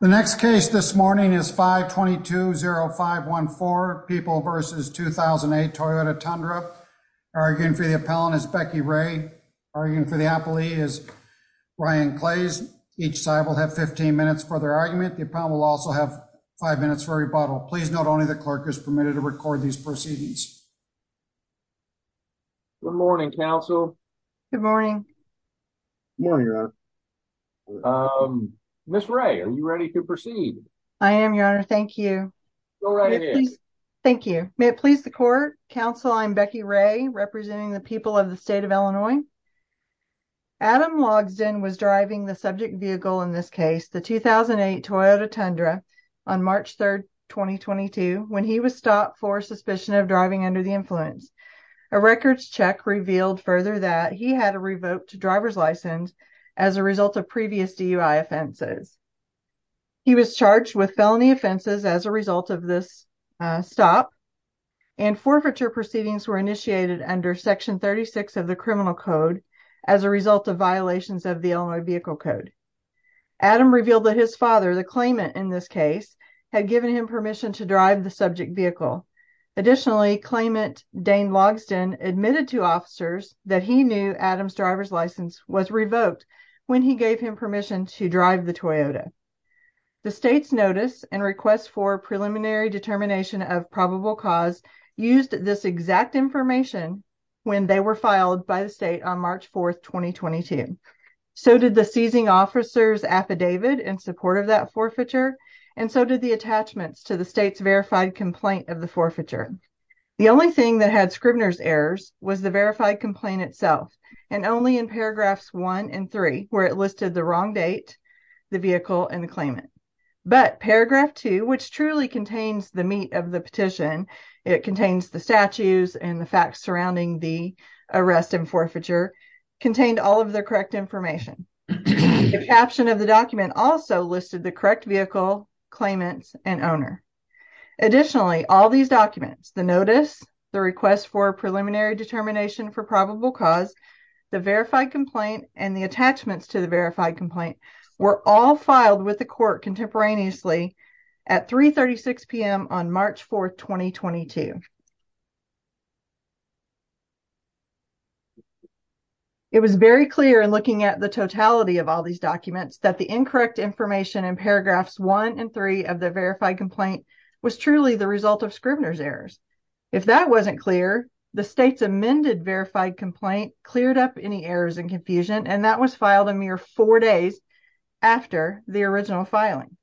The next case this morning is 522-0514, People v. 2008 Toyota Tundra. Arguing for the appellant is Becky Ray. Arguing for the appellee is Ryan Clays. Each side will have 15 minutes for their argument. The appellant will also have five minutes for rebuttal. Please note only the clerk is permitted to record these proceedings. Good morning, counsel. Good morning. Good morning, your honor. Ms. Ray, are you ready to proceed? I am, your honor. Thank you. Thank you. May it please the court. Counsel, I'm Becky Ray, representing the people of the state of Illinois. Adam Logsdon was driving the subject vehicle in this case, the 2008 Toyota Tundra, on March 3, 2022, when he was stopped for suspicion of driving under the influence. A records check revealed further that he had a revoked driver's license as a result of previous DUI offenses. He was charged with felony offenses as a result of this stop, and forfeiture proceedings were initiated under Section 36 of the Criminal Code as a result of violations of the Illinois Vehicle Code. Adam revealed that his father, the claimant in this case, had given him permission to drive the subject vehicle. Additionally, claimant Dane Logsdon admitted to officers that he knew Adam's driver's license was revoked when he gave him permission to drive the Toyota. The state's notice and request for preliminary determination of probable cause used this exact information when they were filed by the state on March 4, 2022. So did the seizing officer's verified complaint of the forfeiture. The only thing that had Scribner's errors was the verified complaint itself, and only in paragraphs one and three, where it listed the wrong date, the vehicle, and the claimant. But paragraph two, which truly contains the meat of the petition, it contains the statues and the facts surrounding the arrest and forfeiture, contained all of the correct information. The caption of the document also listed the correct vehicle, claimant, and owner. Additionally, all these documents, the notice, the request for preliminary determination for probable cause, the verified complaint, and the attachments to the verified complaint were all filed with the court contemporaneously at 3.36 p.m. on March 4, 2022. It was very clear in looking at the totality of all these documents that the incorrect information in paragraphs one and three of the verified complaint was truly the result of Scribner's errors. If that wasn't clear, the state's amended verified complaint cleared up any errors and confusion, and that was filed a mere four days after the original filing,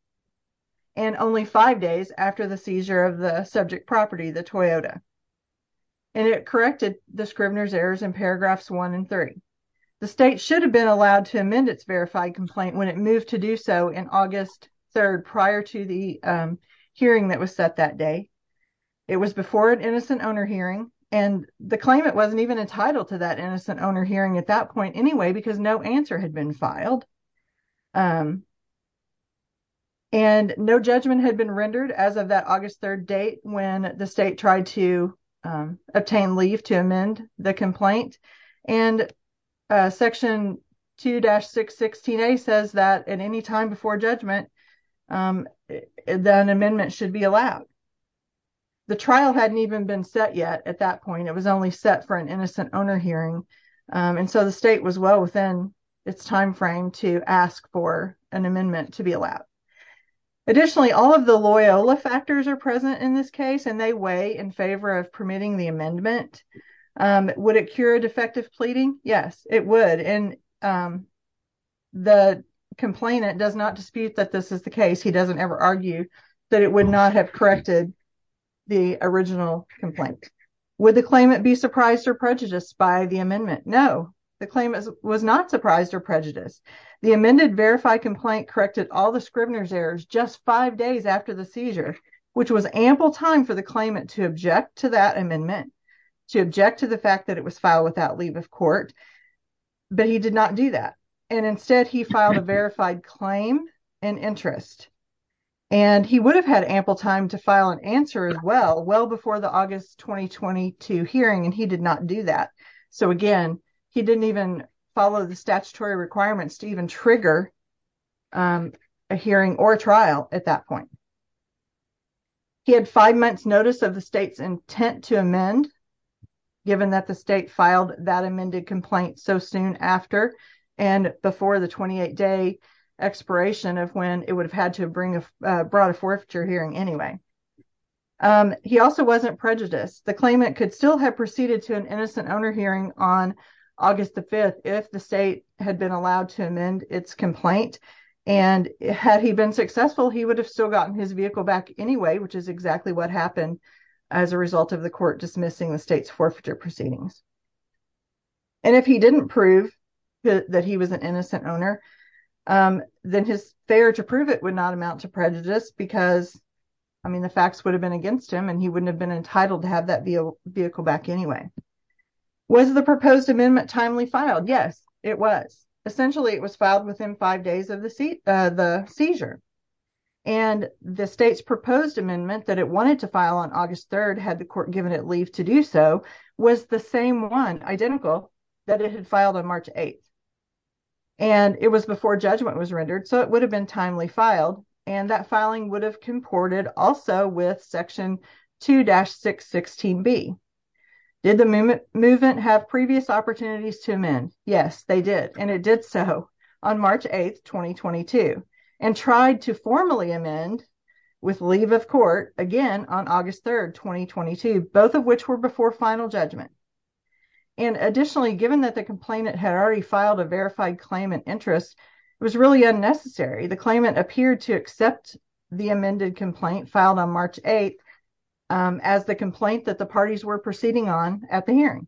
and only five days after the seizure of the subject property, the Toyota. And it corrected the Scribner's errors in paragraphs one and three. The state should have been allowed to amend its verified complaint when it moved to do so in August 3 prior to the hearing that was set that day. It was before an innocent owner hearing, and the claimant wasn't even entitled to that innocent owner hearing at that point anyway because no answer had been filed. And no judgment had been rendered as of that August 3 date when the state tried to obtain leave to amend the complaint. And section 2-616a says that at any time before judgment, an amendment should be allowed. The trial hadn't even been set yet at that point. It was only set for an innocent owner hearing, and so the state was well within its time frame to ask for an amendment to be allowed. Additionally, all of the Loyola factors are present in this case, and they weigh in favor of permitting the amendment. Would it cure defective pleading? Yes, it would. And the complainant does not dispute that this is the case. He doesn't ever argue that it would not have corrected the original complaint. Would the claimant be surprised or prejudiced by the amendment? No, the claimant was not surprised or prejudiced. The amended verified complaint corrected all the Scribner's errors just five days after the seizure, which was ample time for the claimant to object to that amendment, to object to the fact that it was filed without leave of court, but he did not do that. And instead, he filed a verified claim and interest. And he would have had ample time to file an answer as well, well before the August 2022 hearing, and he did not do that. So again, he didn't even follow the statutory requirements to even trigger a hearing or trial at that point. He had five months' notice of the state's intent to amend, given that the state filed that amended complaint so soon after and before the 28-day expiration of when it would have had to have brought a forfeiture hearing anyway. He also wasn't prejudiced. The claimant could have proceeded to an innocent owner hearing on August 5th if the state had been allowed to amend its complaint. And had he been successful, he would have still gotten his vehicle back anyway, which is exactly what happened as a result of the court dismissing the state's forfeiture proceedings. And if he didn't prove that he was an innocent owner, then his failure to prove it would not amount to prejudice because, I mean, the facts would have been against him and he wouldn't have been entitled to have that vehicle back anyway. Was the proposed amendment timely filed? Yes, it was. Essentially, it was filed within five days of the seizure. And the state's proposed amendment that it wanted to file on August 3rd, had the court given it leave to do so, was the same one, identical, that it had filed on March 8th. And it was before judgment was rendered, so it would have been timely filed. And that filing would have comported also with Section 2-616B. Did the movement have previous opportunities to amend? Yes, they did. And it did so on March 8th, 2022, and tried to formally amend with leave of court again on August 3rd, 2022, both of which were before final judgment. And additionally, given that the complainant had already filed a verified claimant interest, it was really unnecessary. The claimant appeared to accept the amended complaint filed on March 8th as the complaint that the parties were proceeding on at the hearing.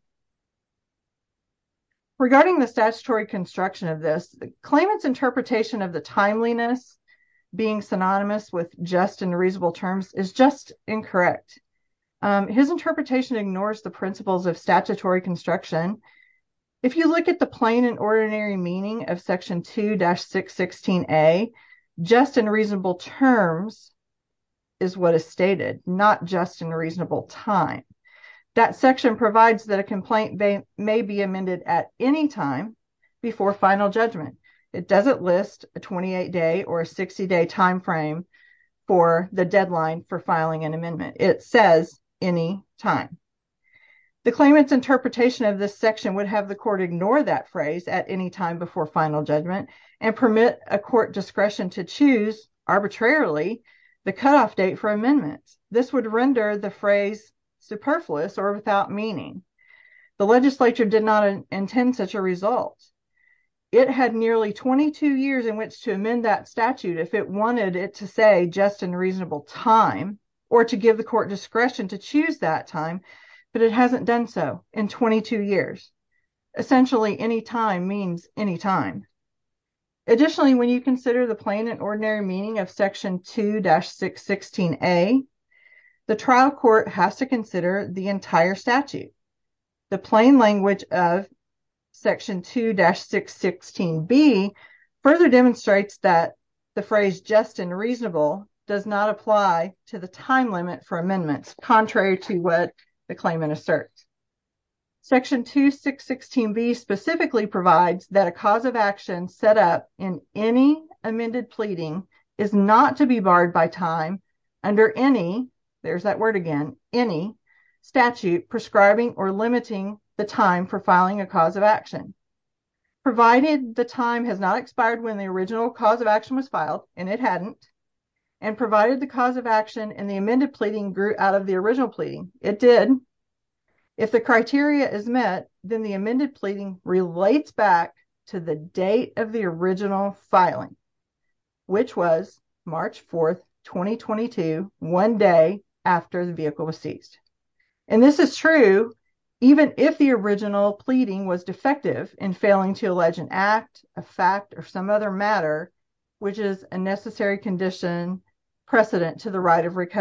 Regarding the statutory construction of this, the claimant's interpretation of the timeliness being synonymous with just and reasonable terms is just incorrect. His interpretation ignores the principles of statutory construction. If you look at the plain and ordinary meaning of Section 2-616A, just and reasonable terms is what is stated, not just and reasonable time. That section provides that a complaint may be amended at any time before final judgment. It doesn't list a 28-day or a 60-day time frame for the deadline for filing an amendment. It says any time. The claimant's interpretation of this section would have the court ignore that phrase at any time before final judgment and permit a court discretion to choose arbitrarily the cutoff date for amendments. This would render the phrase superfluous or without meaning. The legislature did not intend such a result. It had nearly 22 years in which to amend that statute if it wanted it to say just and reasonable time or to give the court discretion to choose that time, but it hasn't done so in 22 years. Essentially any time means any time. Additionally, when you consider the plain and ordinary meaning of Section 2-616A, the trial court has to consider the entire statute. The plain language of Section 2-616B further demonstrates that the phrase just and reasonable does not apply to the time limit for amendments, contrary to what the claimant asserts. Section 2-616B specifically provides that a cause of action set up in any amended pleading is not to be barred by time under any, there's that word again, any statute prescribing or limiting the time for filing a cause of action, provided the time has not expired when the original cause of action was filed, and it hadn't, and provided the cause of action in the amended pleading grew out of the original pleading. It did. If the criteria is met, then the amended pleading relates back to the date of the original filing, which was March 4, 2022, one day after the vehicle was seized. And this is true even if the original pleading was defective in failing to allege an act, a fact, or some other matter which is a necessary condition precedent to the right of that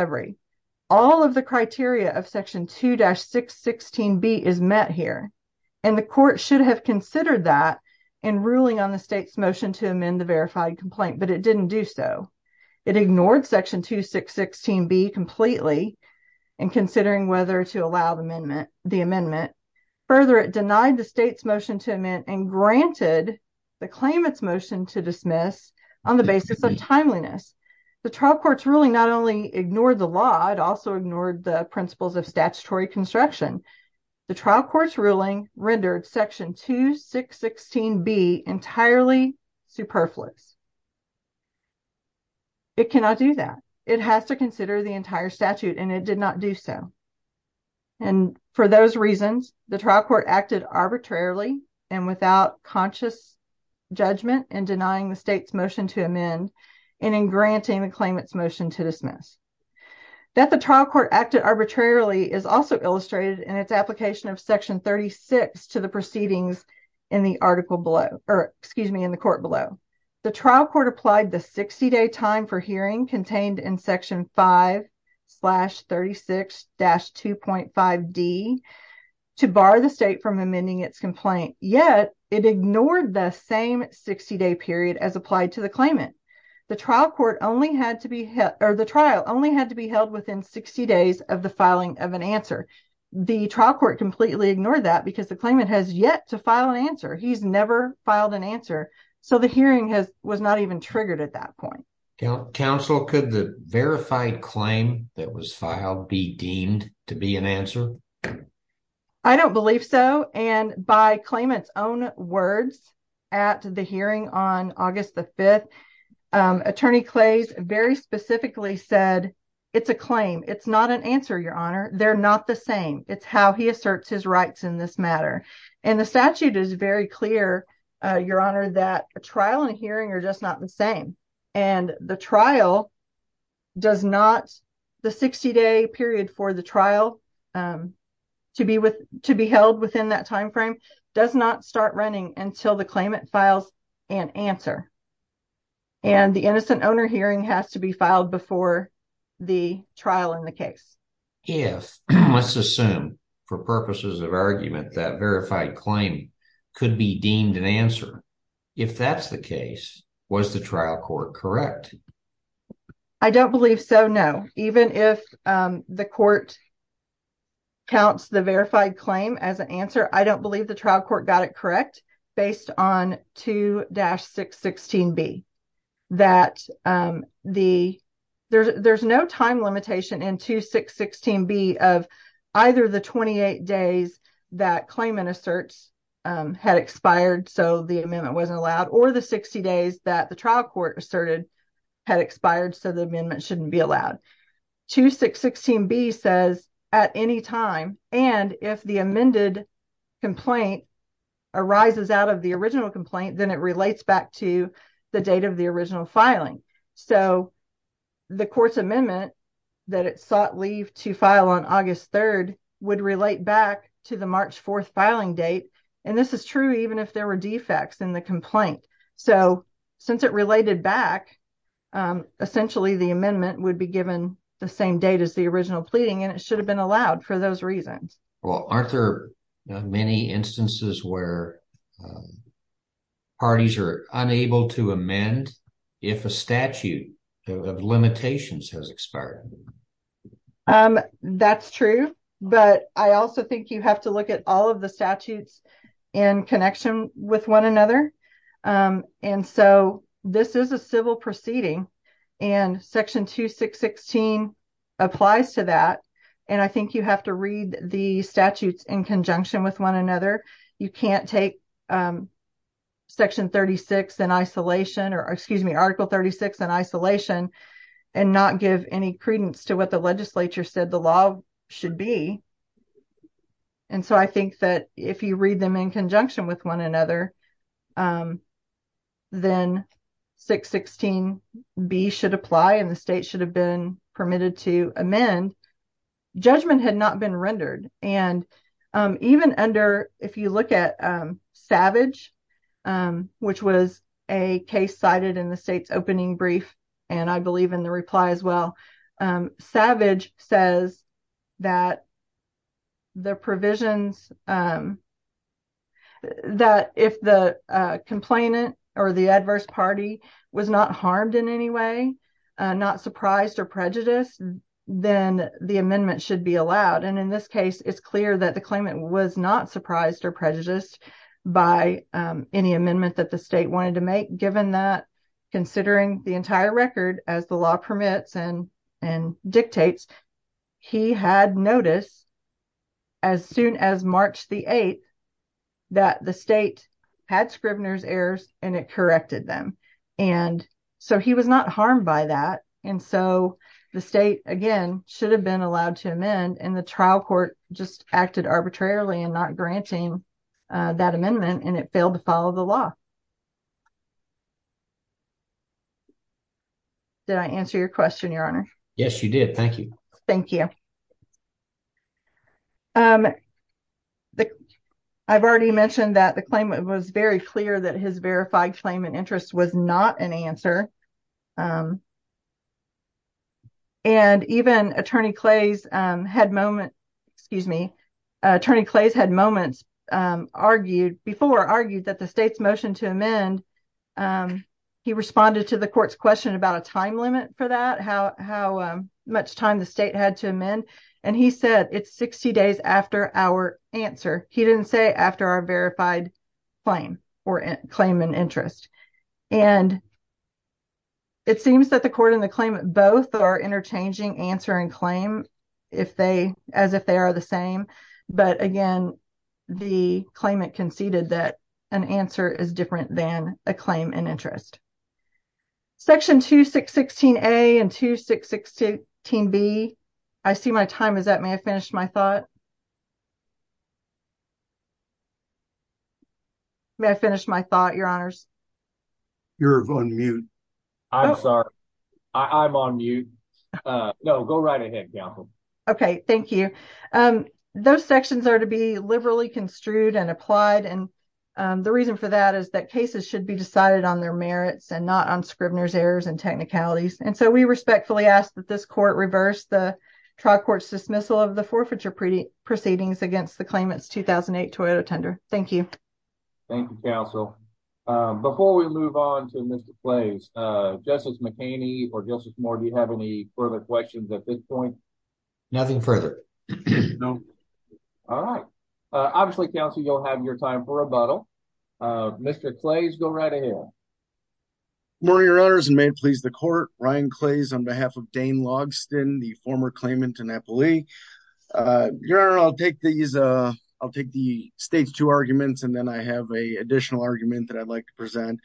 in ruling on the state's motion to amend the verified complaint, but it didn't do so. It ignored Section 2-616B completely in considering whether to allow the amendment, the amendment. Further, it denied the state's motion to amend and granted the claimant's motion to dismiss on the basis of timeliness. The trial court's ruling not only ignored the law, it also entirely superfluous. It cannot do that. It has to consider the entire statute, and it did not do so. And for those reasons, the trial court acted arbitrarily and without conscious judgment in denying the state's motion to amend and in granting the claimant's motion to dismiss. That the trial court acted arbitrarily is also illustrated in its application of Section 36 to proceedings in the article below, or excuse me, in the court below. The trial court applied the 60-day time for hearing contained in Section 5-36-2.5d to bar the state from amending its complaint, yet it ignored the same 60-day period as applied to the claimant. The trial court only had to be held, or the trial only had to be held within 60 days of the filing of an answer. The trial court completely ignored that because the claimant has yet to file an answer. He's never filed an answer, so the hearing has was not even triggered at that point. Counsel, could the verified claim that was filed be deemed to be an answer? I don't believe so, and by claimant's own words at the hearing on August the 5th, Attorney Clays very specifically said, it's a claim, it's not an answer, Your Honor. They're not the same. It's how he asserts his rights in this matter, and the statute is very clear, Your Honor, that a trial and a hearing are just not the same, and the trial does not, the 60-day period for the trial to be held within that time frame does not start running until the claimant and answer, and the innocent owner hearing has to be filed before the trial in the case. If, let's assume for purposes of argument, that verified claim could be deemed an answer, if that's the case, was the trial court correct? I don't believe so, no. Even if the court counts the verified claim as an answer, I don't believe the trial court got it correct based on 2-616B, that there's no time limitation in 2-616B of either the 28 days that claimant asserts had expired, so the amendment wasn't allowed, or the 60 days that the trial court asserted had expired, so the amendment shouldn't be allowed. 2-616B says at any time, and if the amended complaint arises out of the original complaint, then it relates back to the date of the original filing, so the court's amendment that it sought leave to file on August 3rd would relate back to the March 4th filing date, and this is true even if there were defects in the complaint, so since it related back, essentially the amendment would be given the same date as the original pleading, and it should have been allowed for those reasons. Well, aren't there many instances where parties are unable to amend if a statute of limitations has expired? That's true, but I also think you have to look at all of the statutes in connection with one another, and so this is a civil proceeding, and Section 2-616 applies to that, and I think you have to read the statutes in conjunction with one another. You can't take Section 36 in isolation, or excuse me, Article 36 in isolation, and not give any credence to what the legislature said the law should be, and so I think that if you read them in conjunction with one another, then 616B should apply, and the state should have been permitted to amend. Judgment had not been rendered, and even under, if you look at Savage, which was a case cited in the state's opening brief, and I believe in the reply as well, Savage says that if the complainant or the adverse party was not harmed in any way, not surprised or prejudiced, then the amendment should be allowed, and in this case, it's clear that the claimant was not surprised or prejudiced by any amendment that the state wanted to make, given that considering the entire record as the law permits and dictates, he had notice as soon as March the 8th that the state had Scribner's errors, and it corrected them, and so he was not harmed by that, and so the state, again, should have been that amendment, and it failed to follow the law. Did I answer your question, your honor? Yes, you did. Thank you. Thank you. I've already mentioned that the claimant was very clear that his verified claimant interest was not an answer, and even Attorney Clays had moments, excuse me, Attorney Clays had moments argued, before argued, that the state's motion to amend, he responded to the court's question about a time limit for that, how much time the state had to amend, and he said it's 60 days after our answer. He didn't say after our verified claim or claimant interest, and it seems that the court and the claimant both are interchanging answer and claim if they, as if they are the same, but again, the claimant conceded that an answer is different than a claim and interest. Section 2616A and 2616B, I see my time is up. May I finish my thought? May I finish my thought, your honors? You're on mute. I'm sorry. I'm on mute. No, go right ahead. Okay, thank you. Those sections are to be liberally construed and applied, and the reason for that is that cases should be decided on their merits and not on Scribner's errors and technicalities, and so we respectfully ask that this court reverse the trial court's dismissal of the forfeiture proceedings against the claimant's 2008 Toyota Tundra. Thank you. Thank you, counsel. Before we move on to Mr. Clays, Justice McHaney or Justice Moore, do you have any further questions at this point? Nothing further. All right. Obviously, counsel, you'll have your time for rebuttal. Mr. Clays, go right ahead. Good morning, your honors, and may it please the court, Ryan Clays on behalf of Dane Logsdon, the former claimant to Napoli. Your honor, I'll take these, I'll take the stage two arguments, and then I have a additional argument that I'd like to present.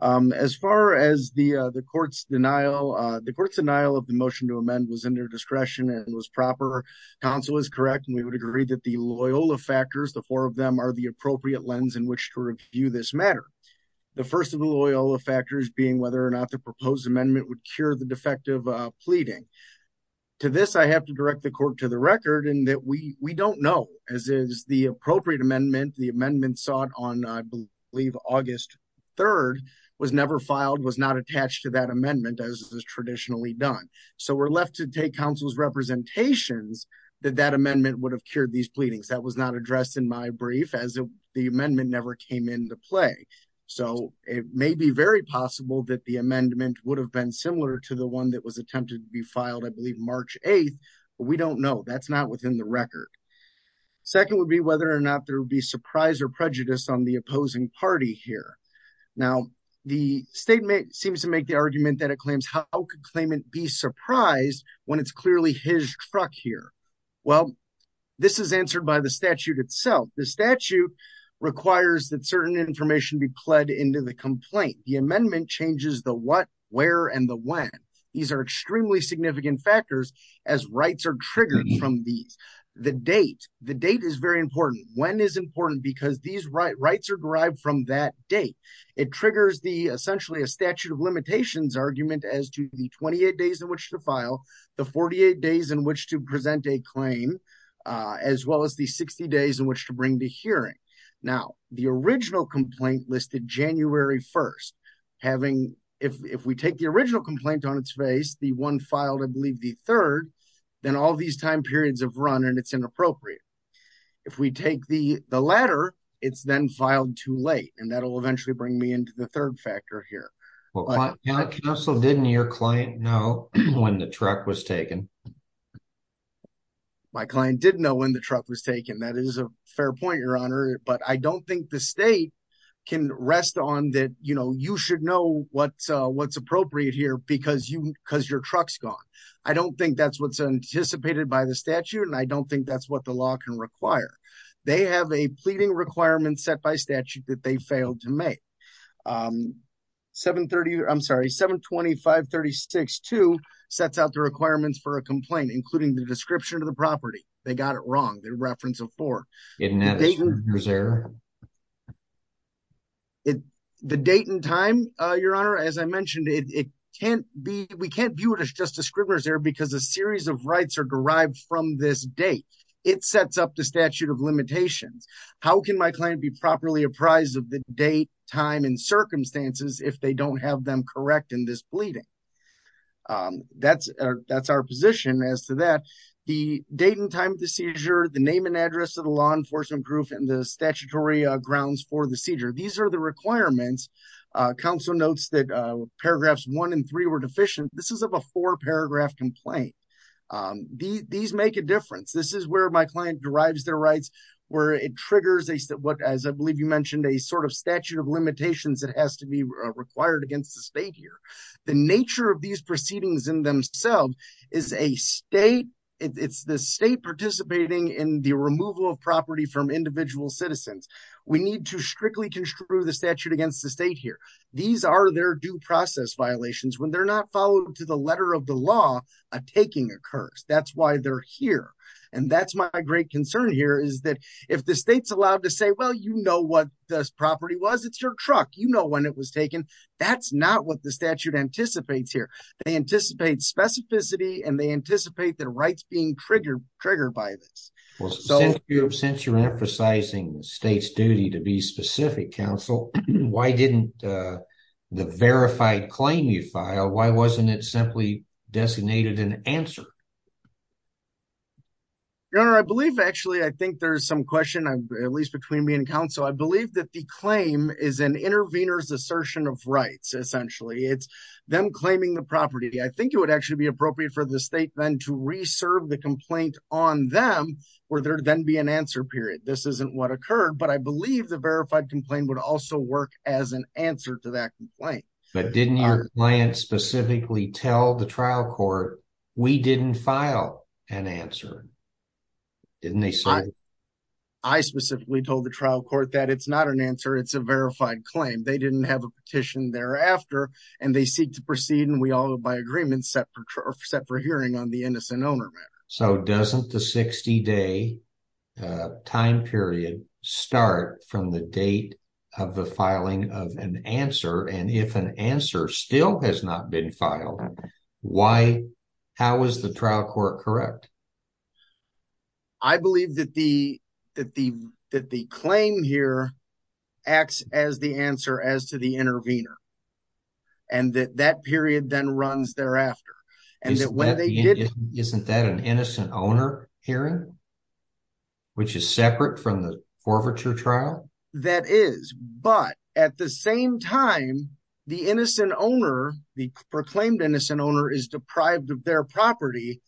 As far as the court's denial, the court's denial of the motion to amend was under discretion and was proper. Counsel is correct, and we would agree that the Loyola factors, the four of them, are the appropriate lens in which to review this matter. The first of the Loyola factors being whether or not the proposed amendment would cure the defective pleading. To this, I have to direct the court to the record in that we don't know, as is the appropriate amendment. The amendment sought on, I believe, August 3rd was never filed, was not attached to that amendment as is traditionally done. So we're left to take counsel's representations that that amendment would have cured these pleadings. That was not addressed in my brief as the amendment never came into play. So it may be very possible that the amendment would have been similar to the one that was attempted to be filed, I believe, March 8th, but we don't know. That's not within the record. Second would be whether or not there would be surprise or prejudice on the opposing party here. Now, the statement seems to make the argument that it claims, how could claimant be surprised when it's clearly his truck here? Well, this is answered by the statute itself. The statute requires that certain information be pled into the complaint. The amendment changes the what, where, and the when. These are extremely significant factors as rights are triggered from these. The date, the date is very important. When is important because these rights are derived from that date. It triggers essentially a statute of limitations argument as to the 28 days in which to file, the 48 days in which to present a claim, as well as the 60 days in which to bring the hearing. Now, the original complaint listed January 1st, having, if we take the original complaint on its face, the one filed, I believe the third, then all these time periods of run, and it's inappropriate. If we take the latter, it's then filed too late. And that'll eventually bring me into the third factor here. Council, didn't your client know when the truck was taken? My client didn't know when the truck was taken. That is a fair point, Your Honor. But I don't think the state can rest on that. You know, you should know what's what's appropriate here because you because your truck's gone. I don't think that's what's anticipated by the statute. And I don't think that's what the law can require. They have a pleading requirement set by statute that they failed to make. 730, I'm sorry, 725-36-2 sets out the requirements for a complaint, including the description of the property. They got it wrong, the reference of four. The date and time, Your Honor, as I mentioned, it can't be we can't view it as just a scrivener's error because a series of rights are derived from this date. It sets up the statute of limitations. How can my client be properly apprised of the date, time and circumstances if they don't have them correct in this pleading? That's our position as to that. The date and time of the seizure, the name and address of the law enforcement group and the statutory grounds for the seizure. These are the requirements. Council notes that paragraphs one and three were deficient. This is a four paragraph complaint. These make a difference. This is where my client derives their rights, where it triggers a what, as I believe you mentioned, a sort of statute of limitations that has to be required against the state here. The nature of these proceedings in themselves is a state. It's the state participating in the removal of property from individual citizens. We need to strictly construe the statute against the state here. These are their due process violations. When they're not followed to the letter of the law, a taking occurs. That's why they're here. That's my great concern here. If the state's allowed to say, well, you know what this property was. It's your truck. You know when it was taken. That's not what the statute anticipates here. They anticipate specificity and they anticipate their rights being triggered by this. Since you're emphasizing the state's duty to be specific, counsel, why didn't the verified You know, I believe, actually, I think there's some question, at least between me and counsel. I believe that the claim is an intervener's assertion of rights. Essentially, it's them claiming the property. I think it would actually be appropriate for the state then to reserve the complaint on them or there to then be an answer period. This isn't what occurred, but I believe the verified complaint would also work as an answer to that complaint. But didn't your client specifically tell the trial court, we didn't file an answer? Didn't they say? I specifically told the trial court that it's not an answer. It's a verified claim. They didn't have a petition thereafter and they seek to proceed and we all by agreement set for hearing on the innocent owner matter. So doesn't the 60 day time period start from the date of the filing of an answer still has not been filed. Why? How is the trial court correct? I believe that the claim here acts as the answer as to the intervener and that that period then runs thereafter. Isn't that an innocent owner hearing, which is separate from the forfeiture trial? That is, but at the same time, the innocent owner, the proclaimed innocent owner is deprived of their property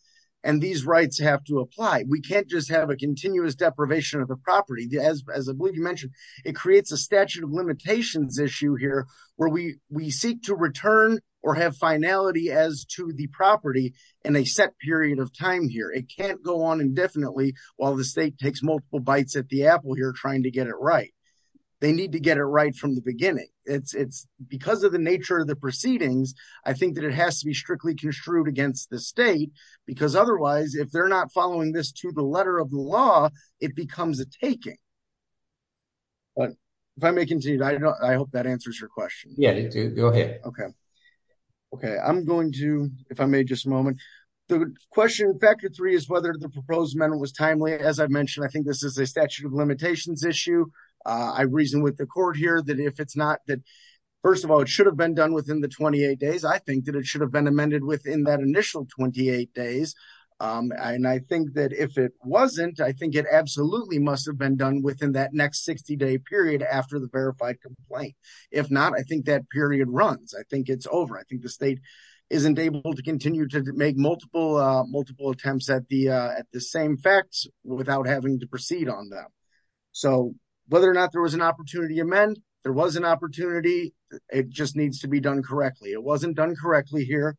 and these rights have to apply. We can't just have a continuous deprivation of the property. As I believe you mentioned, it creates a statute of limitations issue here where we seek to return or have finality as to the property in a set period of time here. It can't go on indefinitely while the state takes multiple bites at the apple here trying to get it right. They need to get it right from the beginning. It's because of the nature of the proceedings. I think that it has to be strictly construed against the state because otherwise if they're not following this to the letter of the law, it becomes a taking. But if I may continue, I hope that answers your question. Yeah, go ahead. Okay. Okay. I'm going to, if I may, just a moment. The question factor three is whether the proposed amendment was timely. As I mentioned, I think this is a statute of limitations issue. I reason with the court here that if it's not that first of all, it should have been done within the 28 days. I think that it should have been amended within that initial 28 days. And I think that if it wasn't, I think it absolutely must have been done within that next 60 day period after the runs. I think it's over. I think the state isn't able to continue to make multiple, multiple attempts at the, at the same facts without having to proceed on them. So whether or not there was an opportunity amend, there was an opportunity. It just needs to be done correctly. It wasn't done correctly here.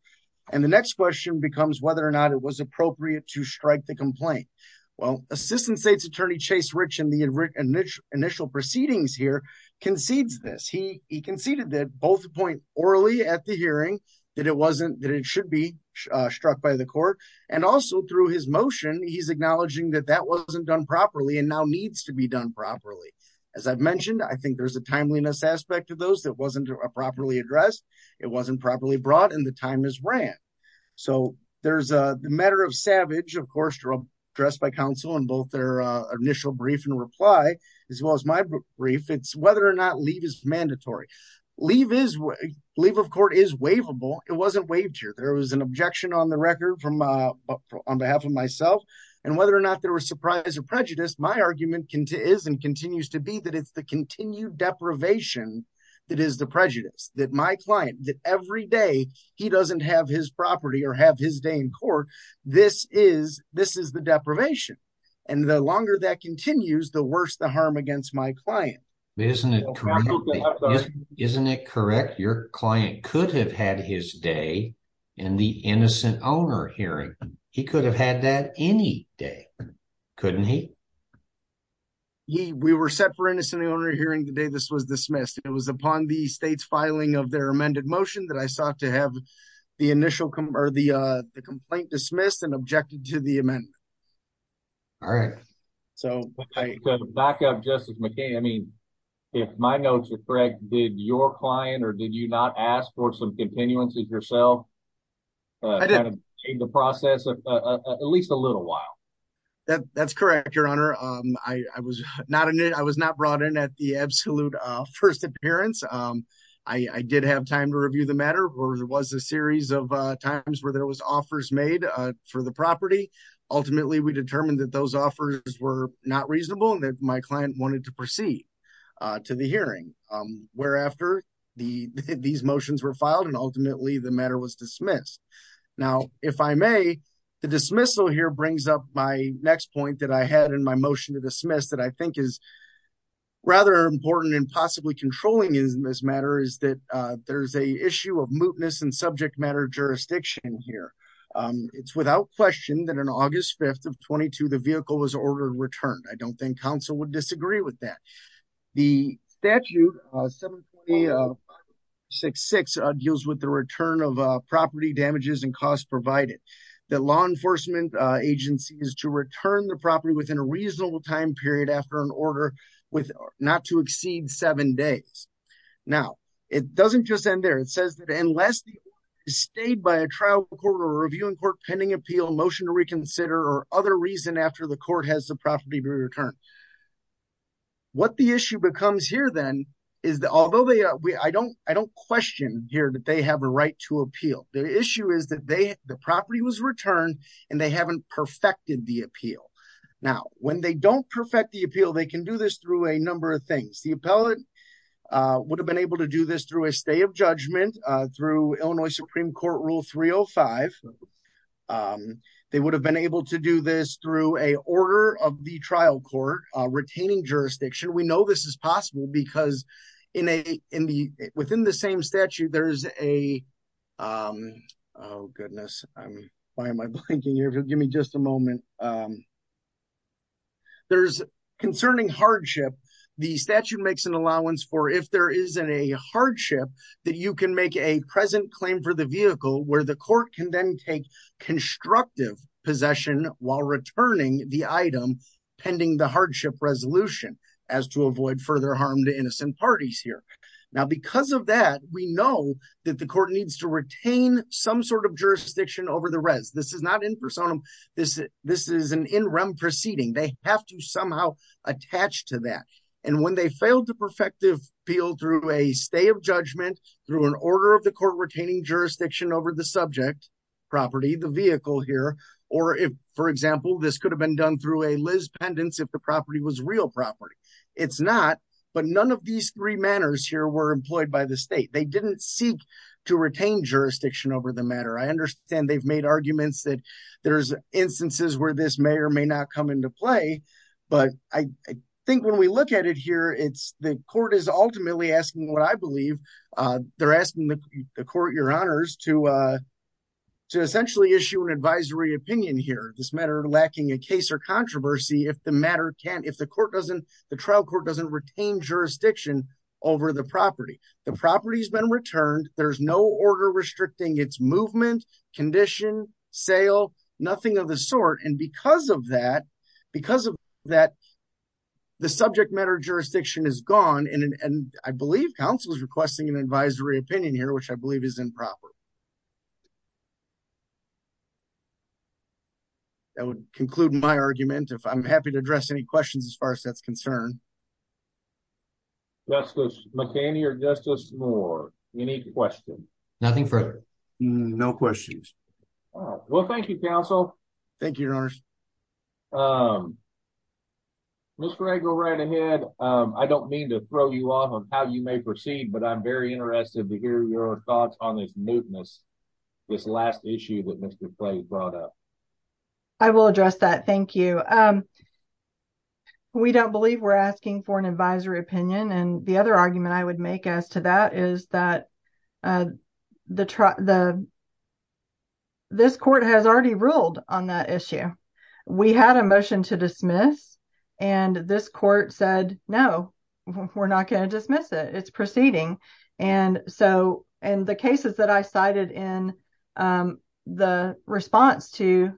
And the next question becomes whether or not it was appropriate to strike the complaint. Well, assistant state's attorney chase rich in the initial proceedings here concedes this. He conceded that both the point orally at the hearing, that it wasn't, that it should be struck by the court. And also through his motion, he's acknowledging that that wasn't done properly and now needs to be done properly. As I've mentioned, I think there's a timeliness aspect of those that wasn't properly addressed. It wasn't properly brought in the time is ran. So there's a matter of savage, of course, dressed by council and both their initial brief and reply as well as my brief it's whether or not leave is mandatory. Leave is leave of court is waivable. It wasn't waived here. There was an objection on the record from on behalf of myself and whether or not there was surprise or prejudice. My argument is and continues to be that it's the continued deprivation. That is the prejudice that my client, that every day he doesn't have his property or have his day in court. This is, this is the deprivation. And the longer that continues, the worse the harm against my client. Isn't it correct? Your client could have had his day in the innocent owner hearing. He could have had that any day. Couldn't he? We were set for innocent owner hearing the day this was dismissed. It was upon the state's filing of their amended motion that I sought to have the initial or the complaint dismissed and objected to the amendment. All right. So back up, Justice McKay. I mean, if my notes are correct, did your client or did you not ask for some continuances yourself? I didn't take the process of at least a little while. That's correct, Your Honor. I was not in it. I was not brought in at the absolute first appearance. I did have time to review the matter or there was a series of times where there was offers made for the property. Ultimately, we determined that those offers were not reasonable and that my client wanted to proceed to the hearing. Whereafter, these motions were filed and ultimately the matter was dismissed. Now, if I may, the dismissal here brings up my next point that I had in my motion to dismiss that I think is rather important and possibly controlling in this matter is that there's a subject matter jurisdiction here. It's without question that on August 5th of 22, the vehicle was ordered returned. I don't think counsel would disagree with that. The statute deals with the return of property damages and costs provided. The law enforcement agency is to return the property within a reasonable time period after an order with not to exceed seven days. Now, it doesn't just end there. It says that unless stayed by a trial court or a reviewing court pending appeal motion to reconsider or other reason after the court has the property returned. What the issue becomes here then is that although I don't question here that they have a right to appeal. The issue is that the property was returned and they haven't perfected the appeal. Now, when they don't perfect the appeal, they can do this through a number of things. The appellate would have been able to do this through a stay of judgment through Illinois Supreme Court Rule 305. They would have been able to do this through a order of the trial court retaining jurisdiction. We know this is possible because within the same Give me just a moment. There's concerning hardship. The statute makes an allowance for if there isn't a hardship that you can make a present claim for the vehicle where the court can then take constructive possession while returning the item pending the hardship resolution as to avoid further harm to innocent parties here. Now, because of that, we know that the court needs to retain some sort of jurisdiction over the res. This is not in personam. This is an in-rem proceeding. They have to somehow attach to that. And when they failed to perfect the appeal through a stay of judgment, through an order of the court retaining jurisdiction over the subject property, the vehicle here, or if for example, this could have been done through a Liz pendants if the property was real property. It's not, but none of these three manners here were employed by the They didn't seek to retain jurisdiction over the matter. I understand they've made arguments that there's instances where this may or may not come into play, but I think when we look at it here, it's the court is ultimately asking what I believe they're asking the court, your honors to essentially issue an advisory opinion here, this matter lacking a case or controversy. If the matter can't, if the court doesn't, the trial court doesn't retain jurisdiction over the property, the property has been returned. There's no order restricting its movement condition sale, nothing of the sort. And because of that, because of that, the subject matter jurisdiction is gone. And I believe council is requesting an advisory opinion here, which I believe is improper. That would conclude my argument. If I'm happy to address any questions, as far as that's concerned. Justice McKinney or Justice Moore? Any questions? Nothing further. No questions. Well, thank you, counsel. Thank you, your honors. Miss Gregor, right ahead. I don't mean to throw you off on how you may proceed, but I'm very interested to hear your thoughts on this newness. This last issue with Mr. Clay brought up. I will address that. Thank you. We don't believe we're asking for an advisory opinion. And the other argument I would make as to that is that the, this court has already ruled on that issue. We had a motion to dismiss and this court said, no, we're not going to dismiss it. It's proceeding. And so, and the cases that I cited in the response to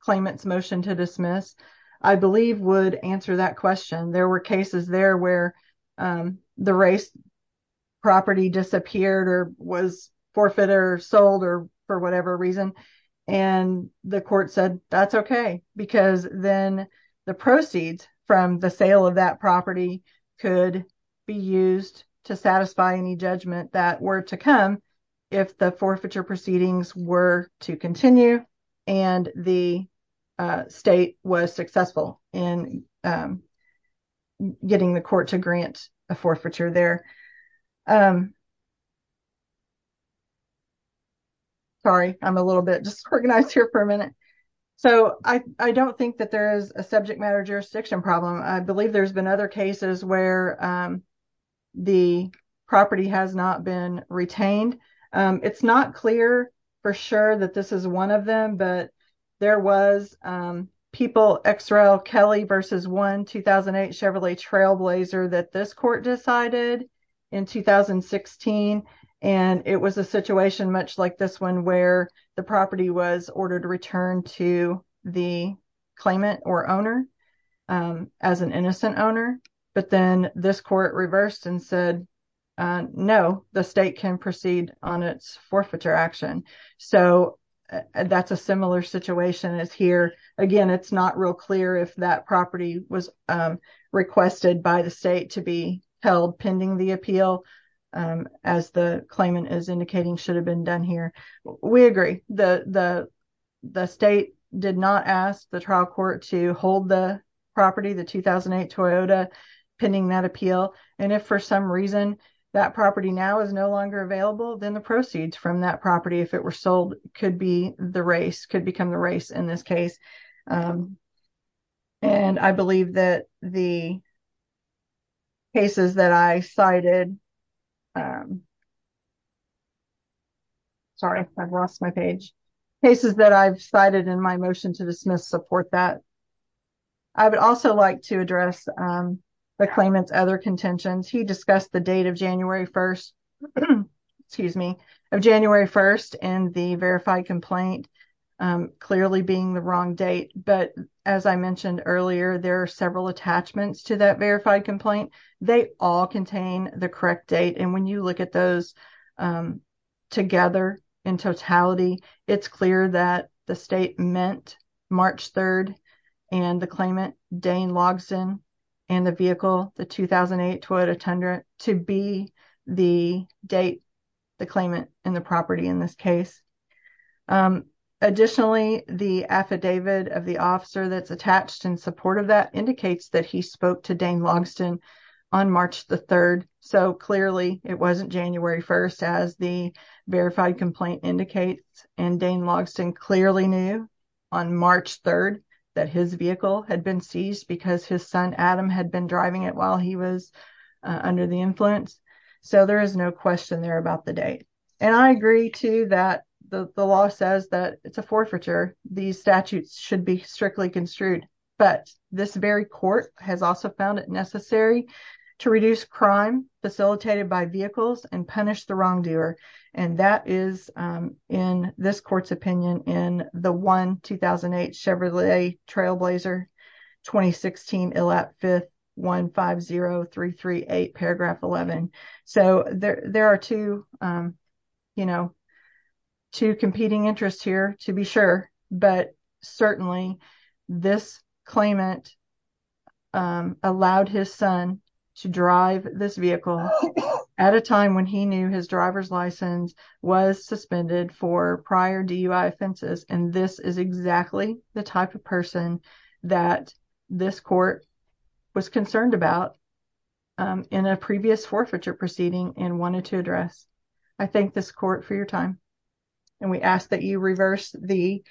claimant's motion to dismiss, I believe would answer that question. There were cases there where the race property disappeared or was forfeited or sold or for whatever reason. And the court said, that's okay, because then the proceeds from the sale of that property could be used to satisfy any judgment that were to come if the forfeiture proceedings were to continue and the state was successful in getting the court to grant a forfeiture there. Sorry, I'm a little bit disorganized here for a minute. So, I don't think that there is a subject matter jurisdiction problem. I believe there's been other cases where the property has not been retained. It's not clear for sure that this is one of them, but there was people, XRL Kelly versus one 2008 Chevrolet Trailblazer that this court decided in 2016. And it was a situation much like this one where the property was ordered to return to the claimant or owner as an innocent owner, but then this court reversed and said, no, the state can proceed on its forfeiture action. So, that's a similar situation as here. Again, it's not real clear if that property was requested by the state to be The state did not ask the trial court to hold the property, the 2008 Toyota, pending that appeal. And if for some reason that property now is no longer available, then the proceeds from that property, if it were sold, could become the race in this case. And I believe that the cases that I cited, I'm sorry, I've lost my page. Cases that I've cited in my motion to dismiss support that. I would also like to address the claimant's other contentions. He discussed the date of January 1st, excuse me, of January 1st and the verified complaint clearly being the wrong date. But as I mentioned earlier, there are several attachments to that verified complaint. They all contain the correct date. And when you look at those together in totality, it's clear that the state meant March 3rd and the claimant, Dane Logsdon, and the vehicle, the 2008 Toyota Tundra, to be the date, the claimant, and the property in this case. Additionally, the affidavit of the officer that's attached in support of that indicates that he on March 3rd. So clearly it wasn't January 1st as the verified complaint indicates. And Dane Logsdon clearly knew on March 3rd that his vehicle had been seized because his son, Adam, had been driving it while he was under the influence. So there is no question there about the date. And I agree too that the law says that it's a forfeiture. These statutes should be strictly construed. But this very court has also found it necessary to reduce crime facilitated by vehicles and punish the wrongdoer. And that is in this court's opinion in the 1-2008 Chevrolet Trailblazer 2016, Illap 5th, 150338, paragraph 11. So there are two, you know, two competing interests here to be sure. But certainly this claimant allowed his son to drive this vehicle at a time when he knew his driver's license was suspended for prior DUI offenses. And this is exactly the type of person that this court was concerned about in a previous forfeiture proceeding and wanted to address. I thank this court for your time. And we ask that you reverse the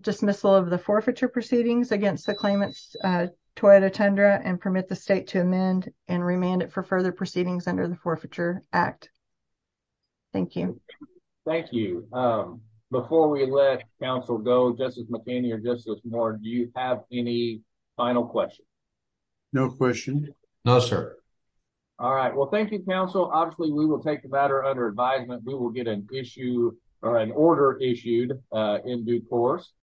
dismissal of the forfeiture proceedings against the claimant's Toyota Tundra and permit the state to amend and remand it for further proceedings under the Forfeiture Act. Thank you. Thank you. Before we let counsel go, Justice McKenney or Justice Moore, do you have any final questions? No questions. No, sir. All right. Well, thank you, counsel. Obviously, we will take the matter under advisement. We will get an issue or an order issued in due course.